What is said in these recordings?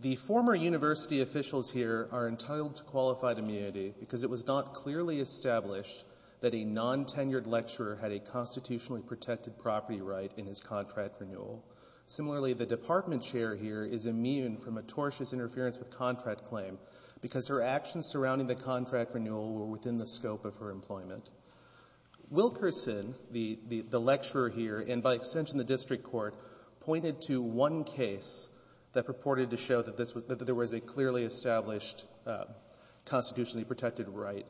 The former university officials here are entitled to qualified immunity because it was not clearly established that a non-tenured lecturer had a constitutionally protected property right in his contract renewal. Similarly, the department chair here is immune from a tortious interference with contract claim because her actions surrounding the contract renewal were within the scope of her employment. Wilkerson, the lecturer here, and by extension the district court, pointed to one case that purported to show that there was a clearly established constitutionally protected right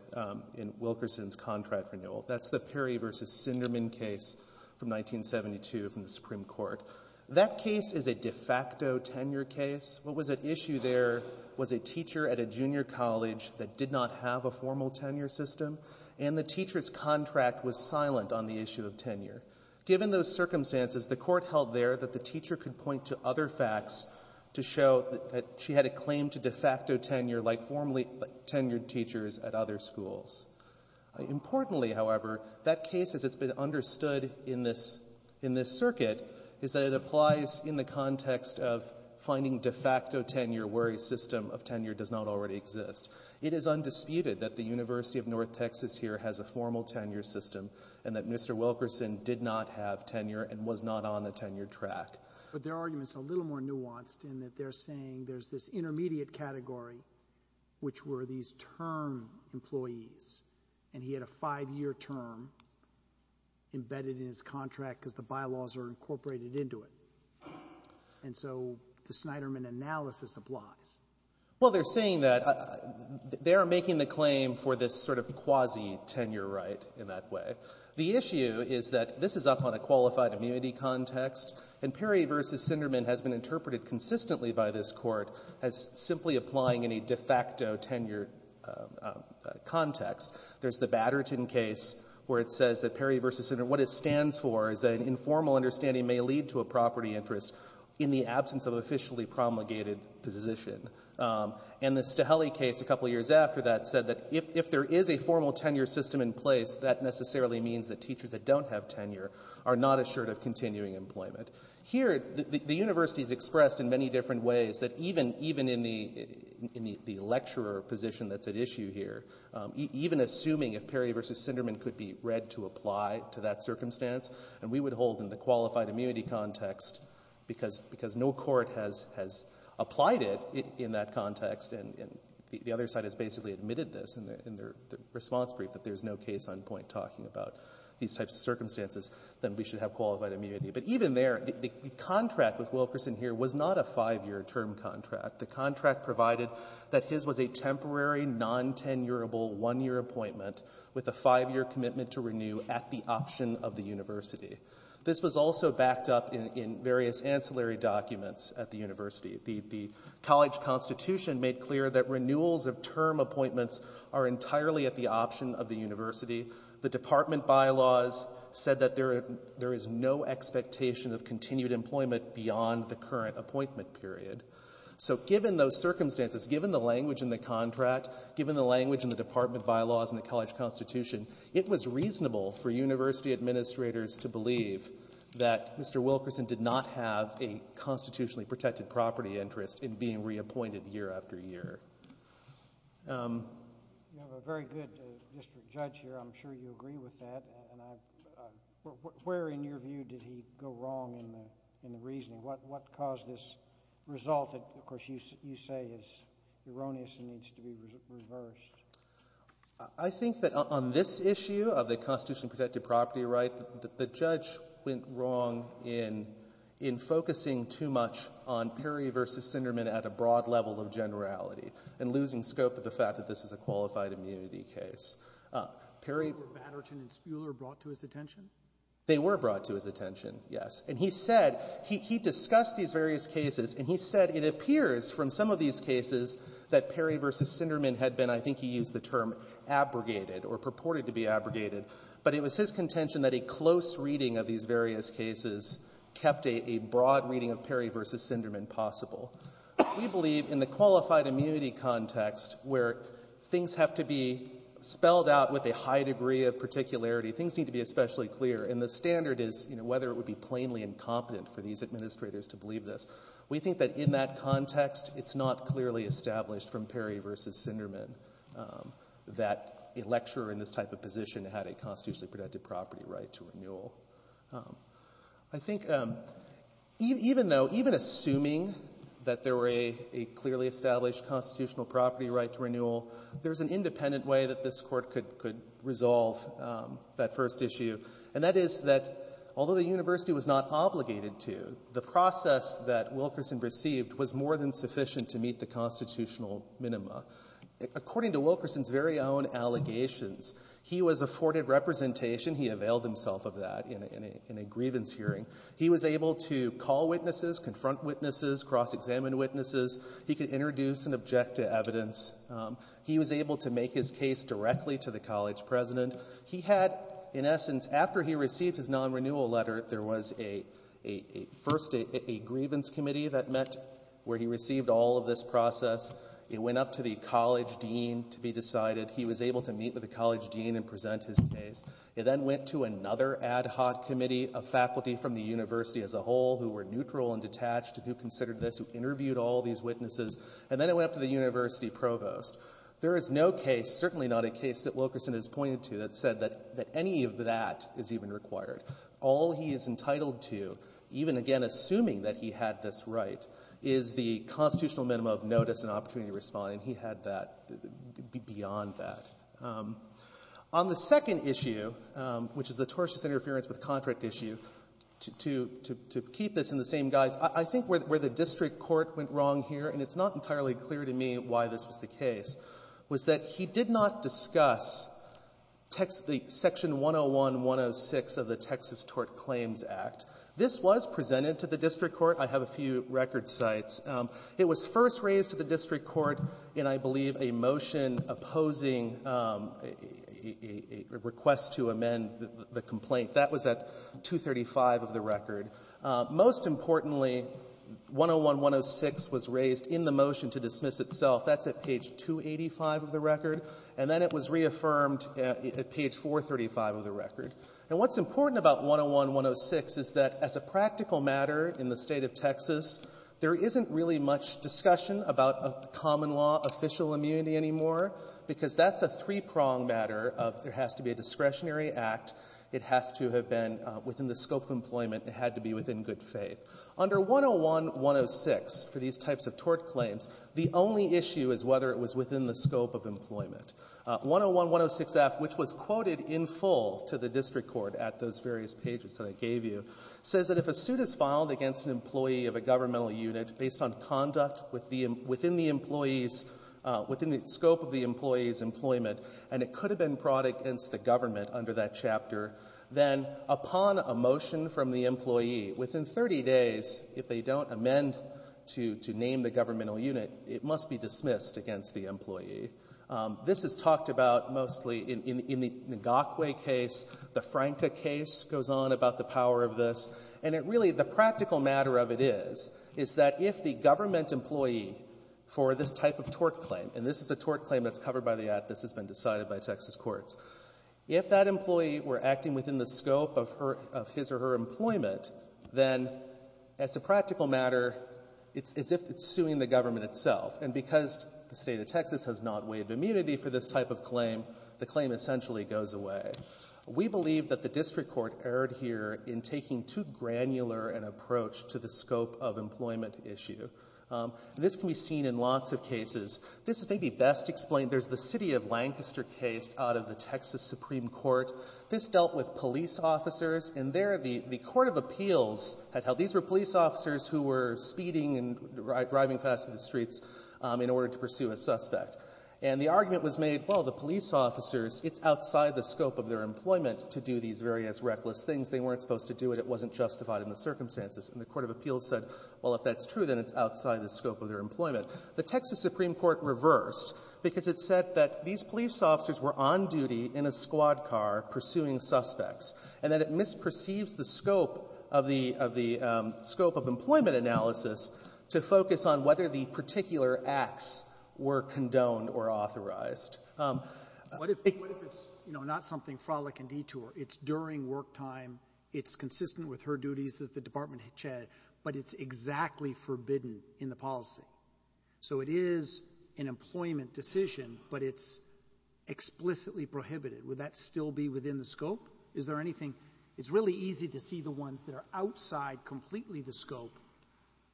in Wilkerson's contract renewal. That's the Perry v. Sinderman case from 1972 from the Supreme Court. That case is a de facto tenure case. What was at issue there was a teacher at a junior college that did not have a formal tenure system, and the teacher's contract was silent on the issue of tenure. Given those circumstances, the court held there that the teacher could point to other facts to show that she had a claim to de facto tenure like formerly tenured teachers at other schools. Importantly, however, that case as it's been understood in this circuit is that it applies in the context of finding de facto tenure where a system of tenure does not already exist. It is undisputed that the University of North Texas here has a formal tenure system, and that Mr. Wilkerson did not have tenure and was not on the tenure track. But their argument's a little more nuanced in that they're saying there's this intermediate category, which were these term employees, and he had a five-year term embedded in his contract because the bylaws are incorporated into it. And so the Snyderman analysis applies. Well, they're saying that they are making the claim for this sort of quasi-tenure right in that way. The issue is that this is up on a qualified immunity context, and Perry v. Snyderman has been interpreted consistently by this court as simply applying any de facto tenure context. There's the Batterton case where it says that Perry v. Snyderman, what it stands for is that an informal understanding may lead to a property interest in the absence of officially promulgated position. And the Staheli case a couple years after that said that if there is a formal tenure system in place, that necessarily means that teachers that don't have tenure are not assured of continuing employment. Here, the university's expressed in many different ways that even in the lecturer position that's at issue here, even assuming if Perry v. Snyderman could be read to apply to that circumstance, and we would hold in the qualified immunity context, because no court has applied it in that context, and the other side has basically admitted this in their response brief that there's no case on point talking about these types of circumstances, then we should have qualified immunity. But even there, the contract with Wilkerson here was not a five-year term contract. The contract provided that his was a temporary non-tenurable one-year appointment with a five-year commitment to renew at the option of the university. This was also backed up in various ancillary documents at the university. The college constitution made clear that renewals of term appointments are entirely at the option of the university. The department bylaws said that there is no expectation of continued employment beyond the current appointment period. So given those circumstances, given the language in the contract, given the language in the department bylaws and the college constitution, it was reasonable for university administrators to believe that Mr. Wilkerson did not have a constitutionally protected property interest in being reappointed year after year. You have a very good district judge here. I'm sure you agree with that. Where, in your view, did he go wrong in the reasoning? What caused this result that, of course, you say is erroneous and needs to be reversed? I think that on this issue of the constitutionally protected property right, the judge went wrong in focusing too much on Perry v. Sinderman at a broad level of generality and losing scope of the fact that this is a qualified immunity case. They were brought to his attention, yes. And he said, he discussed these various cases and he said it appears from some of these cases that Perry v. Sinderman had been, I think he used the term abrogated or purported to be abrogated, but it was his contention that a close reading of these various cases kept a broad reading of Perry v. Sinderman possible. We believe in the qualified immunity context where things have to be spelled out with a high degree of particularity, things need to be especially clear, and the standard is whether it would be plainly incompetent for these administrators to believe this. We think that in that context, it's not clearly established from Perry v. Sinderman that a lecturer in this type of position had a constitutionally protected property right to renewal. I think even though, even assuming that there were a clearly established constitutional property right to renewal, there's an independent way that this Court could resolve that first issue, and that is that although the university was not obligated to, the process that according to Wilkerson's very own allegations, he was afforded representation. He availed himself of that in a grievance hearing. He was able to call witnesses, confront witnesses, cross-examine witnesses. He could introduce and object to evidence. He was able to make his case directly to the college president. He had, in essence, after he received his non-renewal letter, there was a first a grievance committee that met where he received all of this process. It went up to the college dean to be decided. He was able to meet with the college dean and present his case. It then went to another ad hoc committee of faculty from the university as a whole who were neutral and detached, who considered this, who interviewed all these witnesses, and then it went up to the university provost. There is no case, certainly not a case, that Wilkerson has pointed to that said that any of that is even required. All he is entitled to, even again assuming that he had this right, is the constitutional minimum of notice and opportunity to respond, and he had that beyond that. On the second issue, which is the tortious interference with contract issue, to keep this in the same guise, I think where the district court went wrong here, and it's not entirely clear to me why this was the case, was that he did not Texas Tort Claims Act. This was presented to the district court. I have a few record sites. It was first raised to the district court in, I believe, a motion opposing a request to amend the complaint. That was at 235 of the record. Most importantly, 101-106 was raised in the motion to dismiss itself. That's at page 285 of the record. And then it was reaffirmed at page 435 of the record. And what's important about 101-106 is that as a practical matter in the State of Texas, there isn't really much discussion about common law official immunity anymore, because that's a three-pronged matter of there has to be a discretionary act, it has to have been within the scope of employment, it had to be within good faith. Under 101-106 for these types of tort claims, the only issue is whether it was within the scope of employment. 101-106-F, which was quoted in full to the district court at those various pages that I gave you, says that if a suit is filed against an employee of a governmental unit based on conduct within the employee's — within the scope of the employee's employment, and it could have been brought against the government under that chapter, then upon a motion from the employee, within 30 days, if they don't amend to name the governmental unit, it must be dismissed against the employee. This is talked about mostly in the Ngakwe case, the Franca case goes on about the power of this. And it really — the practical matter of it is, is that if the government employee for this type of tort claim — and this is a tort claim that's covered by the Act. This has been decided by Texas courts. If that employee were acting within the scope of her — of his or her employment, then as a practical matter, it's as if it's suing the government itself. And because the State of Texas has not waived immunity for this type of claim, the claim essentially goes away. We believe that the district court erred here in taking too granular an approach to the scope of employment issue. This can be seen in lots of cases. This may be best explained. There's the city of Lancaster case out of the Texas Supreme Court. This dealt with police officers, and there the — the court of appeals had held. These were police officers who were speeding and driving fast in the streets in order to pursue a suspect. And the argument was made, well, the police officers, it's outside the scope of their employment to do these various reckless things. They weren't supposed to do it. It wasn't justified in the circumstances. And the court of appeals said, well, if that's true, then it's outside the scope of their employment. The Texas Supreme Court reversed because it said that these police officers were on duty in a squad car pursuing suspects, and that it misperceives the scope of the — of the scope of employment It's during work time. It's consistent with her duties as the department chair, but it's exactly forbidden in the policy. So it is an employment decision, but it's explicitly prohibited. Would that still be within the scope? Is there anything — it's really easy to see the ones that are outside completely the scope,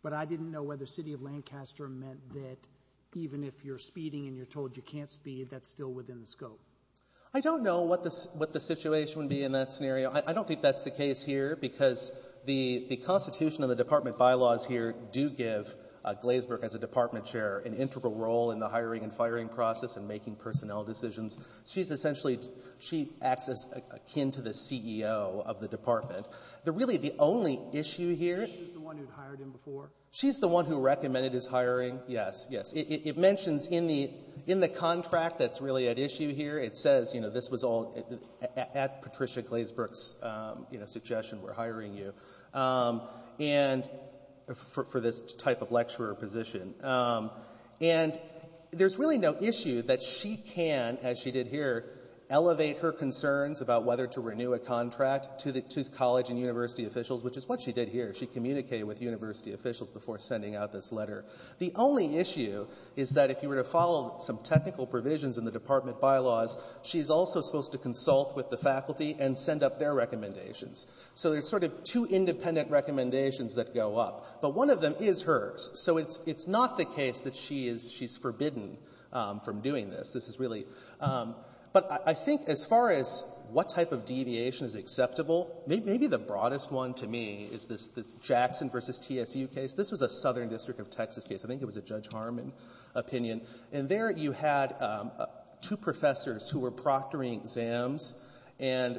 but I didn't know whether city of Lancaster meant that even if you're speeding and you're told you can't speed, that's still within the scope. I don't know what the — what the situation would be in that scenario. I don't think that's the case here because the — the constitution of the department bylaws here do give Glazeburg as a department chair an integral role in the hiring and firing process and making personnel decisions. She's essentially — she acts as akin to the CEO of the department. The — really, the only issue here — She's the one who hired him before? She's the one who recommended his hiring, yes. Yes. It mentions in the — in the letter, it says, you know, this was all at Patricia Glazeburg's, you know, suggestion, we're hiring you, and — for this type of lecturer position. And there's really no issue that she can, as she did here, elevate her concerns about whether to renew a contract to the — to college and university officials, which is what she did here. She communicated with university officials before sending out this letter. The only issue is that if you were to follow some technical provisions in the department bylaws, she's also supposed to consult with the faculty and send up their recommendations. So there's sort of two independent recommendations that go up. But one of them is hers. So it's — it's not the case that she is — she's forbidden from doing this. This is really — but I think as far as what type of deviation is acceptable, maybe the broadest one to me is this — this Jackson v. TSU case. This was a Southern District of Texas case. I think it was a Judge Harmon opinion. And there you had two professors who were proctoring exams, and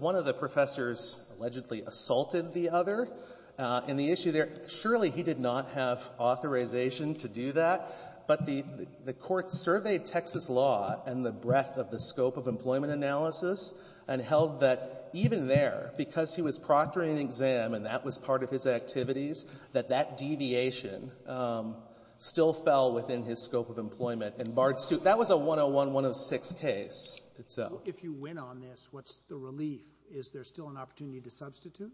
one of the professors allegedly assaulted the other. And the issue there — surely he did not have authorization to do that, but the — the court surveyed Texas law and the breadth of the scope of employment analysis and held that even there, because he was proctoring an exam and that was part of his activities, that that deviation still fell within his scope of employment and barred suit. That was a 101-106 case itself. Sotomayor, if you win on this, what's the relief? Is there still an opportunity to substitute?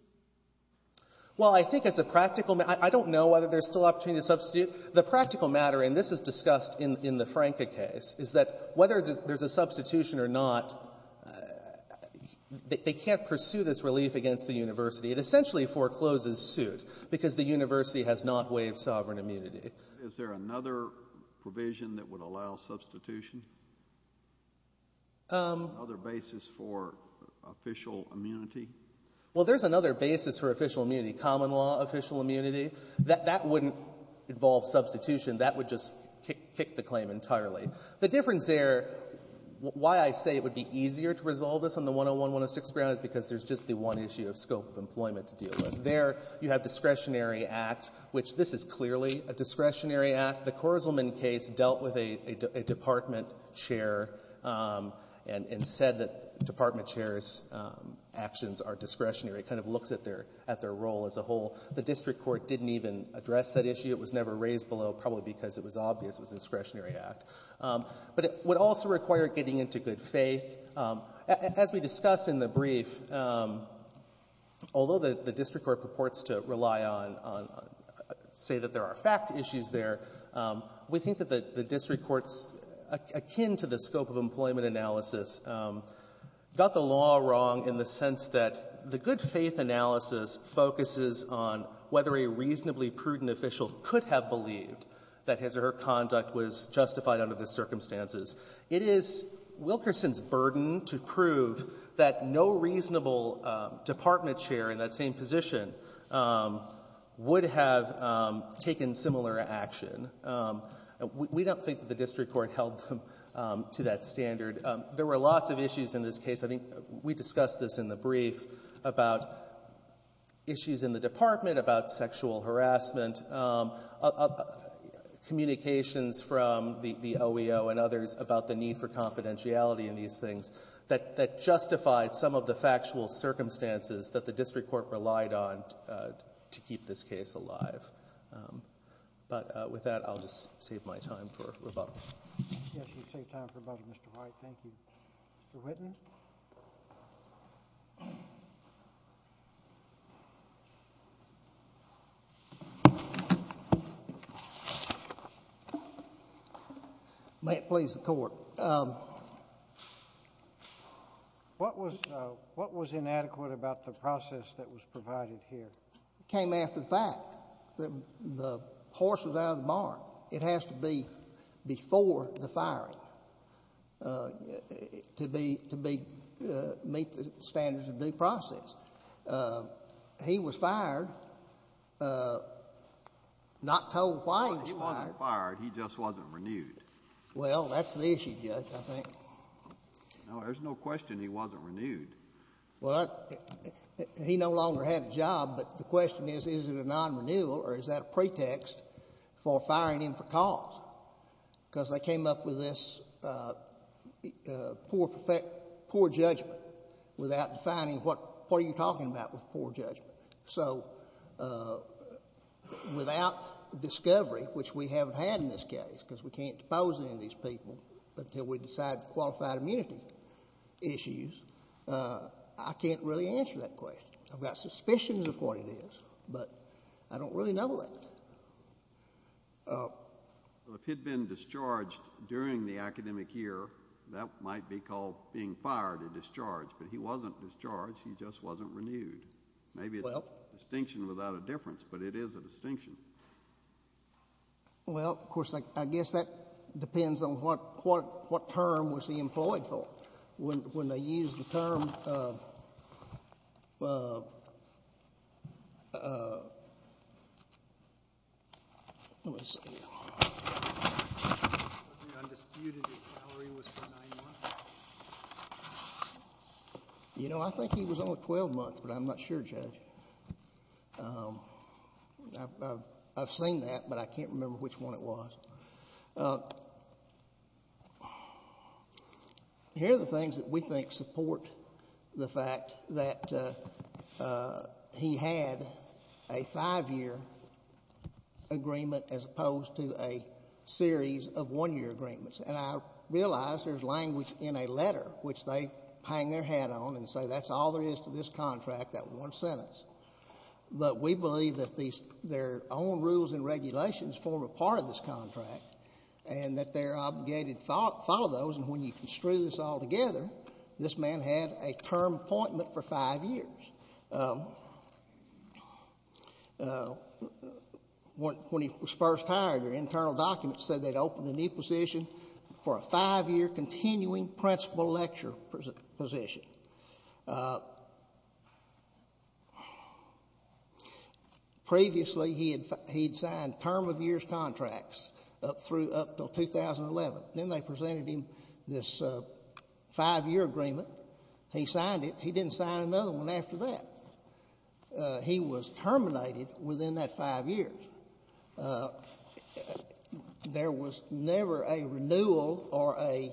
Well, I think as a practical — I don't know whether there's still opportunity to substitute. The practical matter, and this is discussed in the Franca case, is that whether there's a substitution or not, they can't pursue this relief against the university. It essentially forecloses suit because the university has not waived sovereign immunity. Is there another provision that would allow substitution? Another basis for official immunity? Well, there's another basis for official immunity, common law official immunity. That wouldn't involve substitution. That would just kick the claim entirely. The difference there, why I say it would be easier to resolve this on the 101-106 ground is because there's just the one issue of scope of employment to deal with. There, you have discretionary act, which this is clearly a discretionary act. The Korzelman case dealt with a department chair and said that department chair's actions are discretionary. It kind of looks at their role as a whole. The district court didn't even address that issue. It was never raised below, probably because it was obvious it was a discretionary act. But it would also require getting into good faith. As we discuss in the brief, although the district court purports to rely on, say that there are fact issues there, we think that the district courts, akin to the scope of employment analysis, got the law wrong in the sense that the good faith analysis focuses on whether a reasonably prudent official could have believed that his or her conduct was justified under the circumstances. It is Wilkerson's burden to prove that no reasonable department chair in that same position would have taken similar action. We don't think that the district court held them to that standard. There were lots of issues in this case. I think we discussed this in the brief about issues in the department, about sexual harassment, communications from the OEO and others about the need for confidentiality in these things that justified some of the factual circumstances that the district court relied on to keep this case alive. But with that, I'll just save my time for rebuttal. Yes, you've saved time for rebuttal, Mr. White. Thank you. Mr. Whitten. May it please the Court. What was inadequate about the process that was provided here? It came after the fact that the horse was out of the barn. It has to be before the firing to meet the standards of due process. He was fired, not told why he was fired. He wasn't fired. He just wasn't renewed. Well, that's the issue, Judge, I think. No, there's no question he wasn't renewed. Well, he no longer had a job. But the question is, is it a non-renewal or is that a pretext for firing him for cause? Because they came up with this poor judgment without defining what you're talking about with poor judgment. So without discovery, which we haven't had in this case because we can't depose any of these people until we decide the qualified immunity issues, I can't really answer that question. I've got suspicions of what it is, but I don't really know that. Well, if he'd been discharged during the academic year, that might be called being fired or discharged. But he wasn't discharged. He just wasn't renewed. Maybe it's a distinction without a difference, but it is a distinction. Well, of course, I guess that depends on what term was he employed for. When they used the term, let me see. It wasn't undisputed his salary was for nine months. You know, I think he was only 12 months, but I'm not sure, Judge. I've seen that, but I can't remember which one it was. Here are the things that we think support the fact that he had a five-year agreement as opposed to a series of one-year agreements. And I realize there's language in a letter which they hang their hat on and say that's all there is to this contract, that one sentence. But we believe that their own rules and regulations form a part of this contract and that they're obligated to follow those. And when you construe this all together, this man had a term appointment for five years. When he was first hired, their internal documents said they'd open a new position for a five-year continuing principal lecture position. Previously, he'd signed term-of-years contracts up through up until 2011. Then they presented him this five-year agreement. He signed it. He didn't sign another one after that. He was terminated within that five years. There was never a renewal or a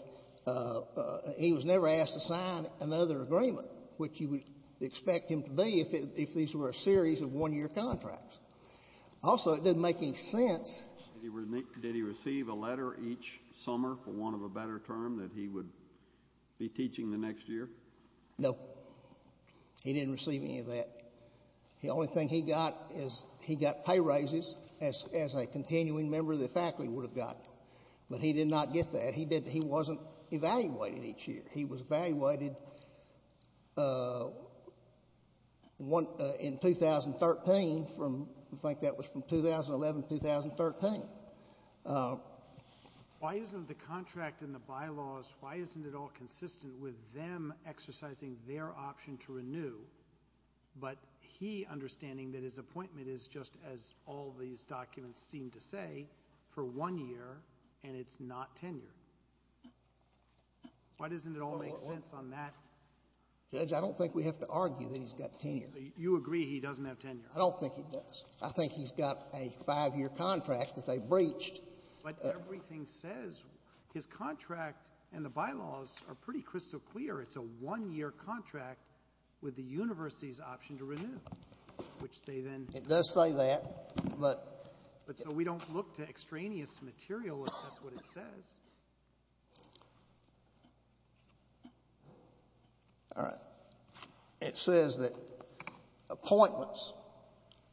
he was never asked to sign another agreement, which you would expect him to be if these were a series of one-year contracts. Also, it didn't make any sense. Did he receive a letter each summer for want of a better term that he would be teaching the next year? No. He didn't receive any of that. The only thing he got is he got pay raises as a continuing member of the faculty would have gotten. But he did not get that. He wasn't evaluated each year. He was evaluated in 2013. I think that was from 2011 to 2013. Why isn't the contract in the bylaws, why isn't it all consistent with them exercising their option to renew, but he understanding that his appointment is just as all these documents seem to say for one year and it's not tenured? Why doesn't it all make sense on that? Judge, I don't think we have to argue that he's got tenure. You agree he doesn't have tenure. I don't think he does. I think he's got a five-year contract that they breached. But everything says his contract and the bylaws are pretty crystal clear. It's a one-year contract with the university's option to renew, which they then— It does say that, but— All right. It says that appointments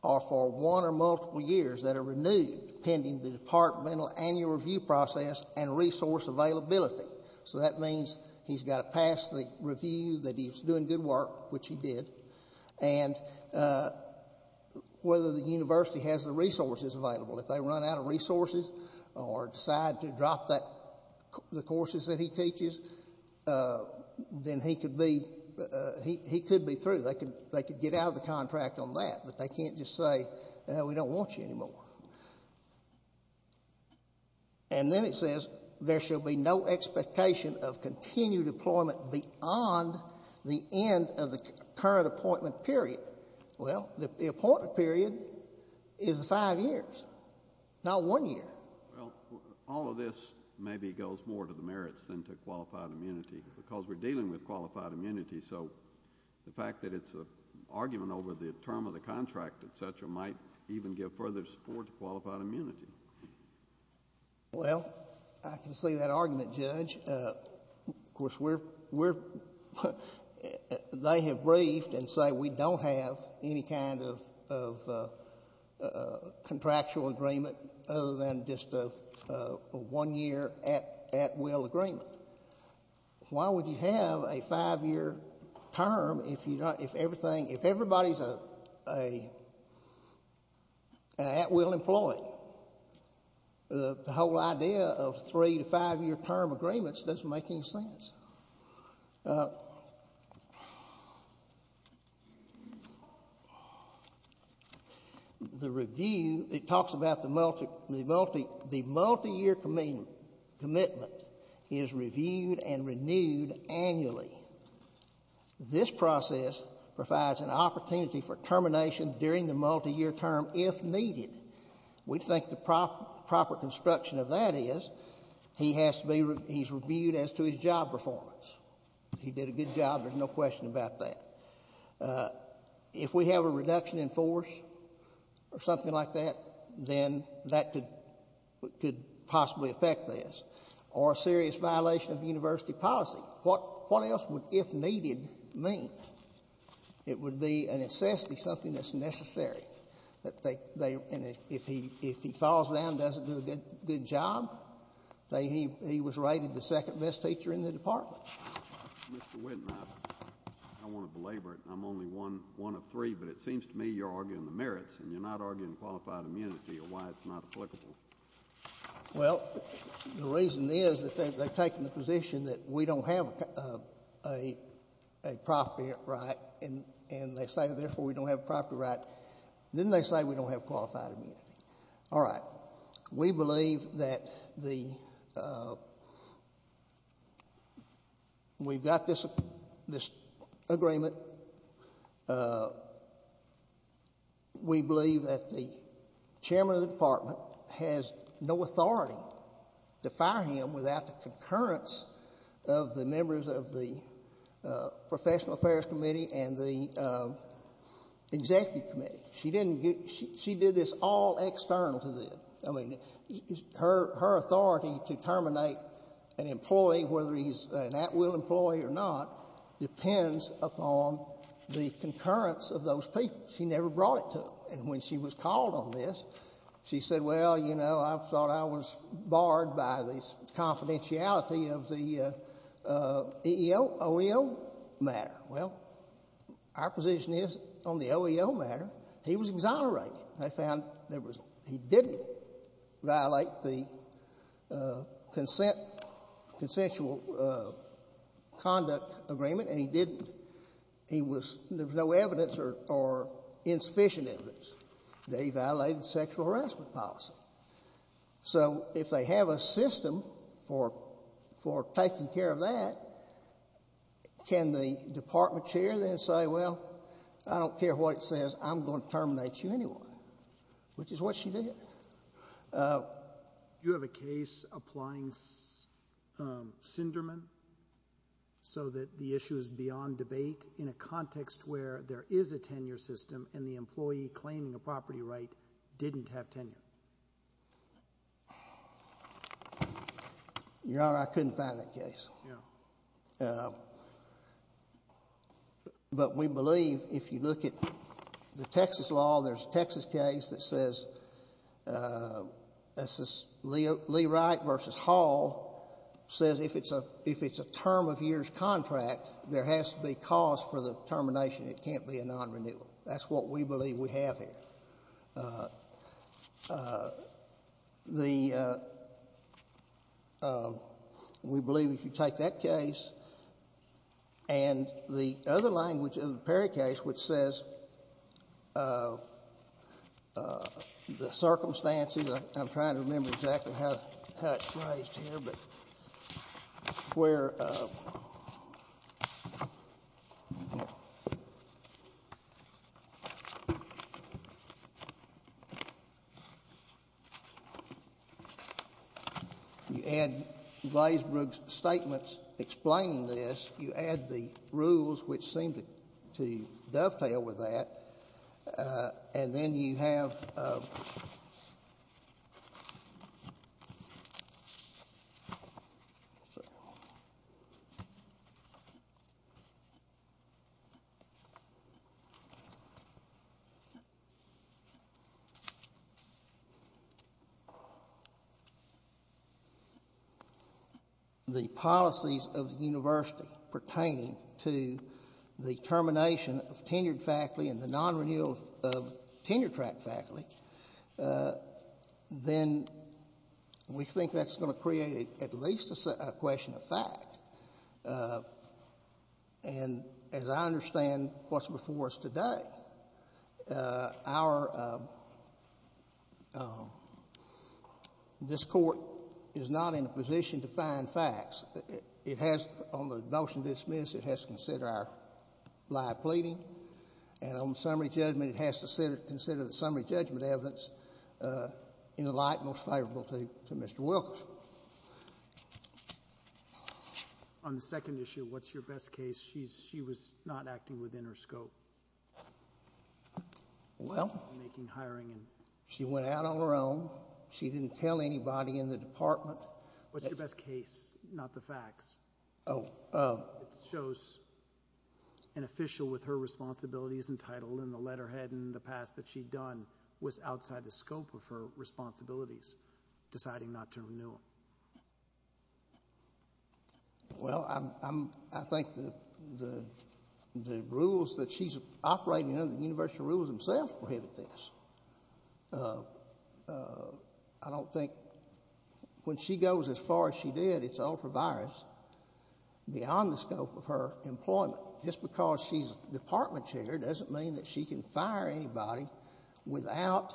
are for one or multiple years that are renewed pending the departmental annual review process and resource availability. So that means he's got to pass the review that he's doing good work, which he did, and whether the university has the resources available. If they run out of resources or decide to drop the courses that he teaches, then he could be through. They could get out of the contract on that, but they can't just say, you know, we don't want you anymore. And then it says there shall be no expectation of continued employment beyond the end of the current appointment period. Well, the appointment period is five years, not one year. Well, all of this maybe goes more to the merits than to qualified immunity because we're dealing with qualified immunity. So the fact that it's an argument over the term of the contract, et cetera, might even give further support to qualified immunity. Well, I can see that argument, Judge. Of course, they have briefed and say we don't have any kind of contractual agreement other than just a one-year at-will agreement. Why would you have a five-year term if everybody's an at-will employee? Well, the whole idea of three- to five-year term agreements doesn't make any sense. The review, it talks about the multi-year commitment is reviewed and renewed annually. This process provides an opportunity for termination during the multi-year term if needed. We think the proper construction of that is he's reviewed as to his job performance. He did a good job. There's no question about that. If we have a reduction in force or something like that, then that could possibly affect this or a serious violation of university policy. What else would if needed mean? It would be a necessity, something that's necessary. And if he falls down and doesn't do a good job, he was rated the second best teacher in the department. Mr. Whitten, I want to belabor it, and I'm only one of three, but it seems to me you're arguing the merits and you're not arguing qualified immunity or why it's not applicable. Well, the reason is that they've taken the position that we don't have a property right, and they say, therefore, we don't have a property right. Then they say we don't have qualified immunity. All right. We believe that we've got this agreement. We believe that the chairman of the department has no authority to fire him without the concurrence of the members of the professional affairs committee and the executive committee. She did this all external to them. I mean, her authority to terminate an employee, whether he's an at-will employee or not, depends upon the concurrence of those people. She never brought it to them. And when she was called on this, she said, well, you know, I thought I was barred by this confidentiality of the OEO matter. Well, our position is on the OEO matter. He was exonerated. They found he didn't violate the consensual conduct agreement, and he didn't. There was no evidence or insufficient evidence that he violated the sexual harassment policy. So if they have a system for taking care of that, can the department chair then say, well, I don't care what it says. I'm going to terminate you anyway, which is what she did. Do you have a case applying Sinderman so that the issue is beyond debate in a context where there is a tenure system and the employee claiming a property right didn't have tenure? Your Honor, I couldn't find that case. Yeah. But we believe if you look at the Texas law, there's a Texas case that says, Lee Wright v. Hall says if it's a term of years contract, there has to be cause for the termination. It can't be a non-renewal. That's what we believe we have here. We believe if you take that case and the other language of the Perry case, which says the circumstances, I'm trying to remember exactly how it's phrased here, but where You add Glazebrook's statements explaining this. You add the rules, which seem to dovetail with that. And then you have The policies of the university pertaining to the termination of tenured faculty and the non-renewal of tenure-track faculty, then we think that's going to create at least a question of fact. And as I understand what's before us today, this Court is not in a position to find facts. It has, on the motion to dismiss, it has to consider our live pleading. And on summary judgment, it has to consider the summary judgment evidence in the light most favorable to Mr. Wilkerson. On the second issue, what's your best case? She was not acting within her scope. Well, she went out on her own. She didn't tell anybody in the department. What's your best case, not the facts? It shows an official with her responsibilities entitled in the letterhead in the past that she'd done was outside the scope of her responsibilities, deciding not to renew them. Well, I think the rules that she's operating under, the university rules themselves prohibited this. I don't think when she goes as far as she did, it's ultra-virus beyond the scope of her employment. Just because she's department chair doesn't mean that she can fire anybody without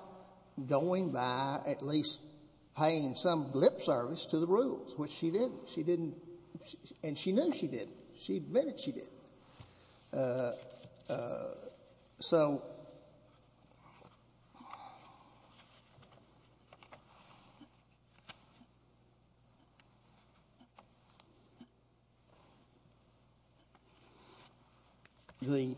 going by at least paying some lip service to the rules, which she didn't. She didn't, and she knew she didn't. She admitted she didn't. So the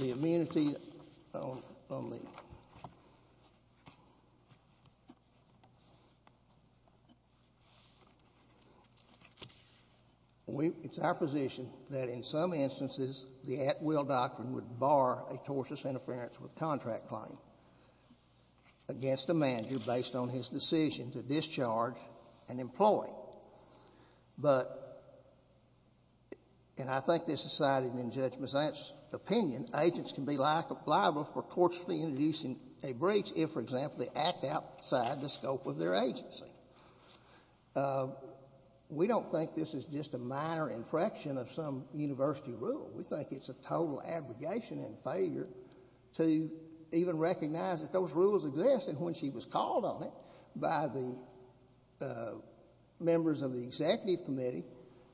immunity on the It's our position that in some instances, the at-will doctrine would bar a tortious interference with contract claim against a manager based on his decision to discharge an employee. But, and I think this is cited in Judge Mazzant's opinion, agents can be liable for tortiously introducing a breach if, for example, they act outside the scope of their agency. We don't think this is just a minor infraction of some university rule. We think it's a total abrogation and failure to even recognize that those rules exist. And when she was called on it by the members of the executive committee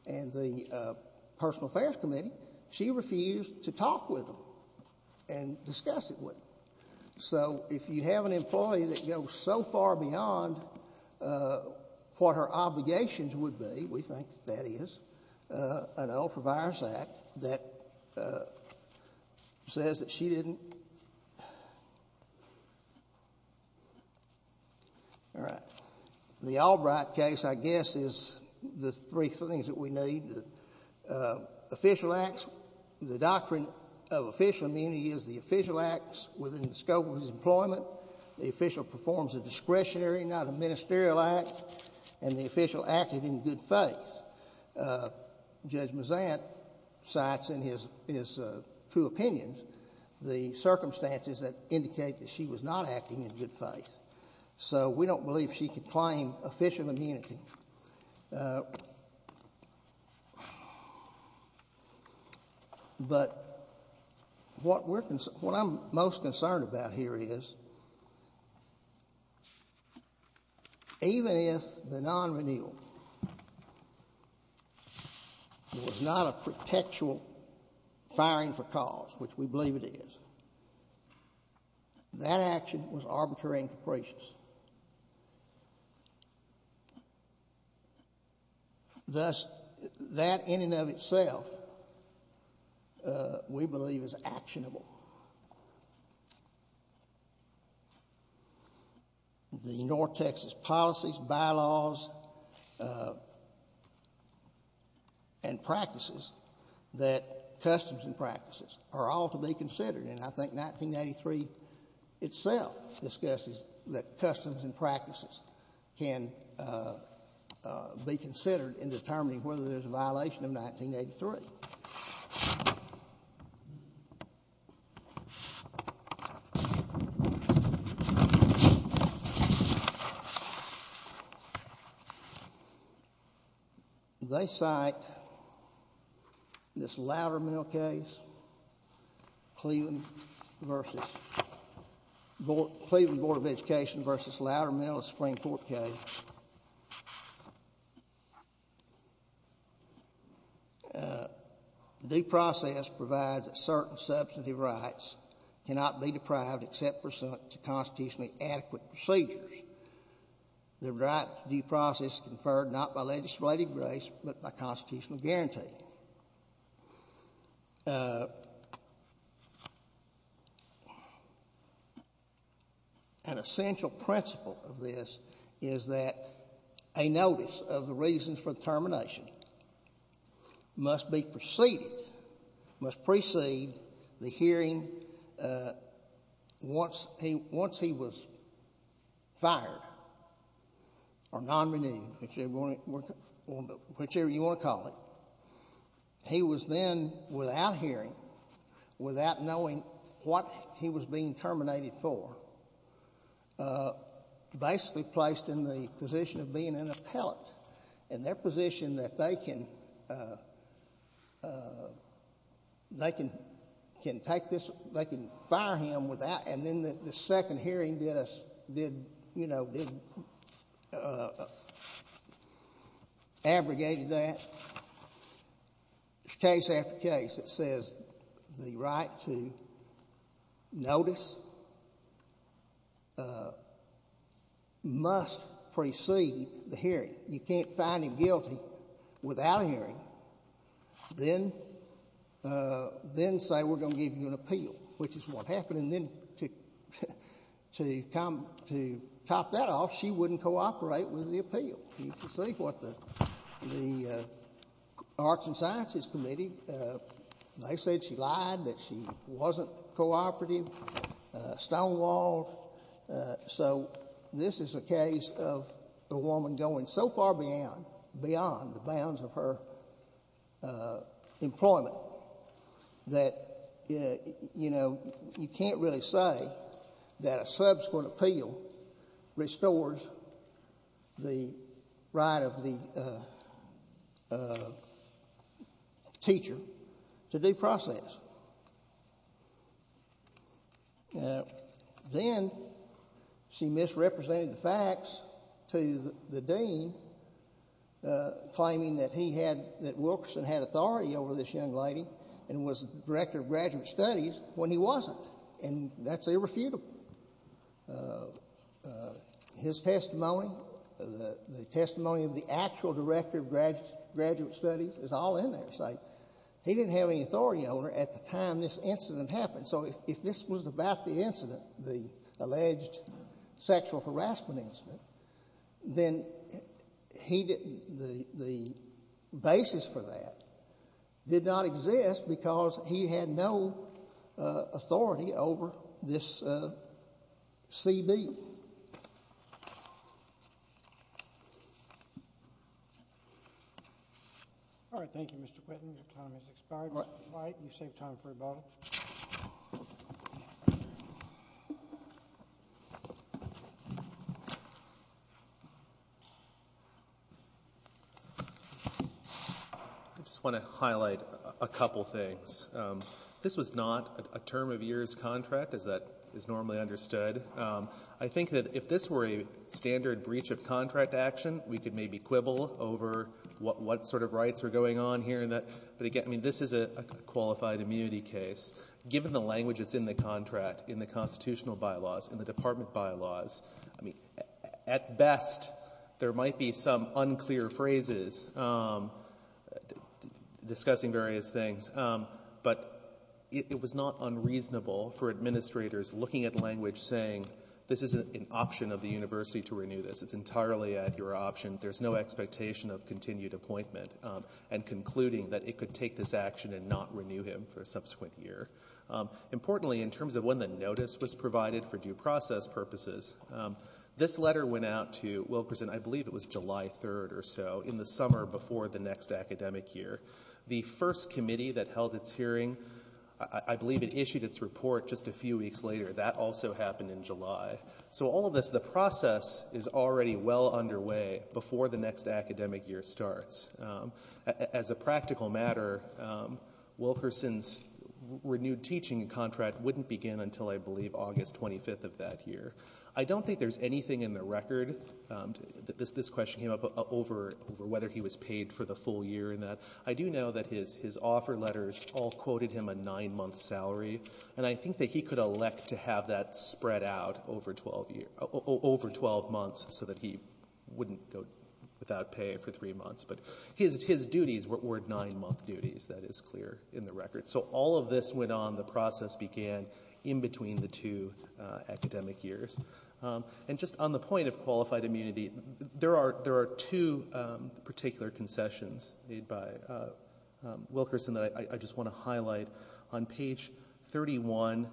and the personal affairs committee, she refused to talk with them and discuss it with them. So if you have an employee that goes so far beyond what her obligations would be, we think that is an ultra-virus act that says that she didn't. All right. The Albright case, I guess, is the three things that we need. Official acts, the doctrine of official immunity is the official acts within the scope of his employment, the official performs a discretionary, not a ministerial act, and the official acted in good faith. Judge Mazzant cites in his two opinions the circumstances that indicate that she was not acting in good faith. So we don't believe she could claim official immunity. But what I'm most concerned about here is even if the non-renewal was not a pretextual firing for cause, which we believe it is, that action was arbitrary and capricious. Thus, that in and of itself we believe is actionable. The North Texas policies, bylaws, and practices, that customs and practices are all to be considered. And I think 1983 itself discusses that customs and practices can be considered in determining whether there's a violation of 1983. They cite this Loudermill case, Cleveland Board of Education versus Loudermill, a Supreme Court case. Due process provides that certain substantive rights cannot be deprived except pursuant to constitutionally adequate procedures. The right to due process is conferred not by legislative grace but by constitutional guarantee. An essential principle of this is that a notice of the reasons for termination must precede the hearing once he was fired or non-renewed, whichever you want to call it. He was then, without hearing, without knowing what he was being terminated for, basically placed in the position of being an appellate. In their position that they can fire him without, and then the second hearing did abrogate that. Case after case it says the right to notice must precede the hearing. You can't find him guilty without hearing. Then say we're going to give you an appeal, which is what happened. Then to top that off, she wouldn't cooperate with the appeal. You can see what the Arts and Sciences Committee, they said she lied, that she wasn't cooperative, stonewalled. So this is a case of a woman going so far beyond the bounds of her employment that you can't really say that a subsequent appeal restores the right of the teacher to due process. Then she misrepresented the facts to the dean, claiming that he had, that Wilkerson had authority over this young lady and was director of graduate studies when he wasn't, and that's irrefutable. His testimony, the testimony of the actual director of graduate studies is all in there. He didn't have any authority over her at the time this incident happened. So if this was about the incident, the alleged sexual harassment incident, then the basis for that did not exist because he had no authority over this CB. All right. Thank you, Mr. Whitten. Your time has expired. All right. You've saved time for about a minute. I just want to highlight a couple things. This was not a term of years contract as that is normally understood. I think that if this were a standard breach of contract action, we could maybe quibble over what sort of rights are going on here. But, again, this is a qualified immunity case. Given the language that's in the contract, in the constitutional bylaws, in the department bylaws, I mean, at best, there might be some unclear phrases discussing various things. But it was not unreasonable for administrators looking at language saying, this is an option of the university to renew this. It's entirely at your option. There's no expectation of continued appointment and concluding that it could take this action and not renew him for a subsequent year. Importantly, in terms of when the notice was provided for due process purposes, this letter went out to Wilkerson, I believe it was July 3rd or so, in the summer before the next academic year. The first committee that held its hearing, I believe it issued its report just a few weeks later. That also happened in July. So all of this, the process is already well underway before the next academic year starts. As a practical matter, Wilkerson's renewed teaching contract wouldn't begin until, I believe, August 25th of that year. I don't think there's anything in the record, this question came up over whether he was paid for the full year. I do know that his offer letters all quoted him a nine-month salary, and I think that he could elect to have that spread out over 12 months so that he wouldn't go without pay for three months. But his duties were nine-month duties, that is clear in the record. So all of this went on, the process began, in between the two academic years. And just on the point of qualified immunity, there are two particular concessions made by Wilkerson that I just want to highlight. On page 31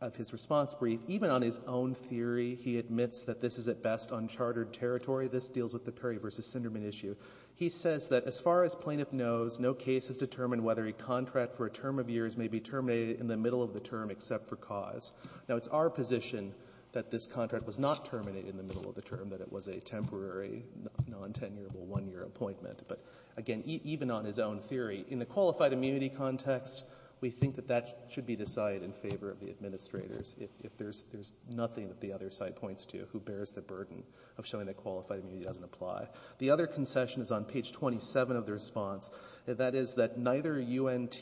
of his response brief, even on his own theory, he admits that this is at best unchartered territory. This deals with the Perry v. Sinderman issue. He says that as far as plaintiff knows, no case has determined whether a contract for a term of years may be terminated in the middle of the term except for cause. Now, it's our position that this contract was not terminated in the middle of the term, that it was a temporary, nontenurable one-year appointment. But again, even on his own theory, in the qualified immunity context, we think that that should be decided in favor of the administrators, if there's nothing that the other side points to who bears the burden of showing that qualified immunity doesn't apply. The other concession is on page 27 of the response. That is that neither UNT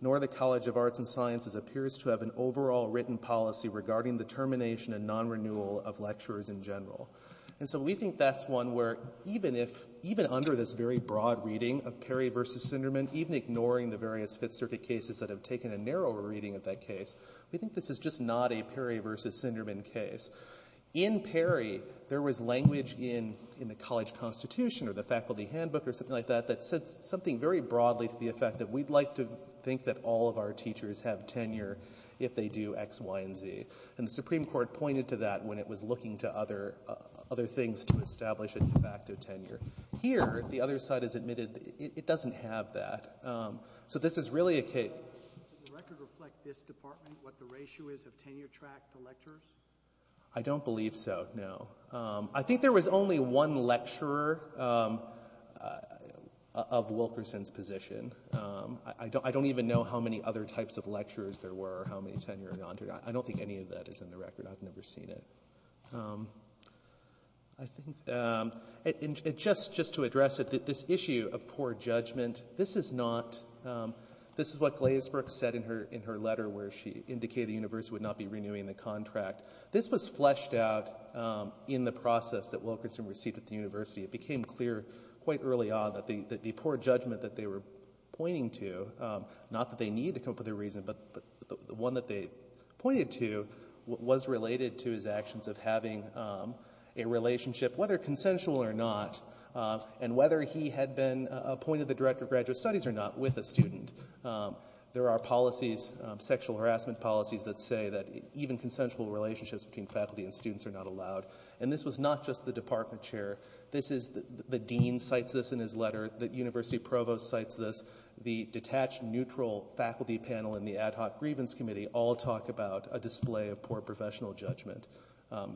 nor the College of Arts and Sciences appears to have an overall written policy regarding the termination and non-renewal of lecturers in general. And so we think that's one where, even if, even under this very broad reading of Perry v. Sinderman, even ignoring the various Fifth Circuit cases that have taken a narrower reading of that case, we think this is just not a Perry v. Sinderman case. In Perry, there was language in the college constitution or the faculty handbook or something like that that said something very broadly to the effect that we'd like to think that all of our teachers have tenure if they do X, Y, and Z. And the Supreme Court pointed to that when it was looking to other things to establish a de facto tenure. Here, the other side has admitted it doesn't have that. So this is really a case... Does the record reflect this department, what the ratio is of tenure track to lecturers? I don't believe so, no. I think there was only one lecturer of Wilkerson's position. I don't even know how many other types of lecturers there were or how many tenure or non-tenure... I don't think any of that is in the record. I've never seen it. I think... And just to address it, this issue of poor judgment, this is not... This is what Glazebrook said in her letter where she indicated the university would not be renewing the contract. This was fleshed out in the process that Wilkerson received at the university. It became clear quite early on that the poor judgment that they were pointing to, not that they need to come up with a reason, but the one that they pointed to was related to his actions of having a relationship, whether consensual or not, and whether he had been appointed the director of graduate studies or not, with a student. There are policies, sexual harassment policies, that say that even consensual relationships between faculty and students are not allowed. And this was not just the department chair. The dean cites this in his letter. The university provost cites this. The detached neutral faculty panel and the ad hoc grievance committee all talk about a display of poor professional judgment.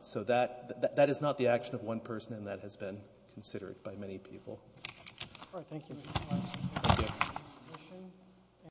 So that is not the action of one person, and that has been considered by many people. All right, thank you.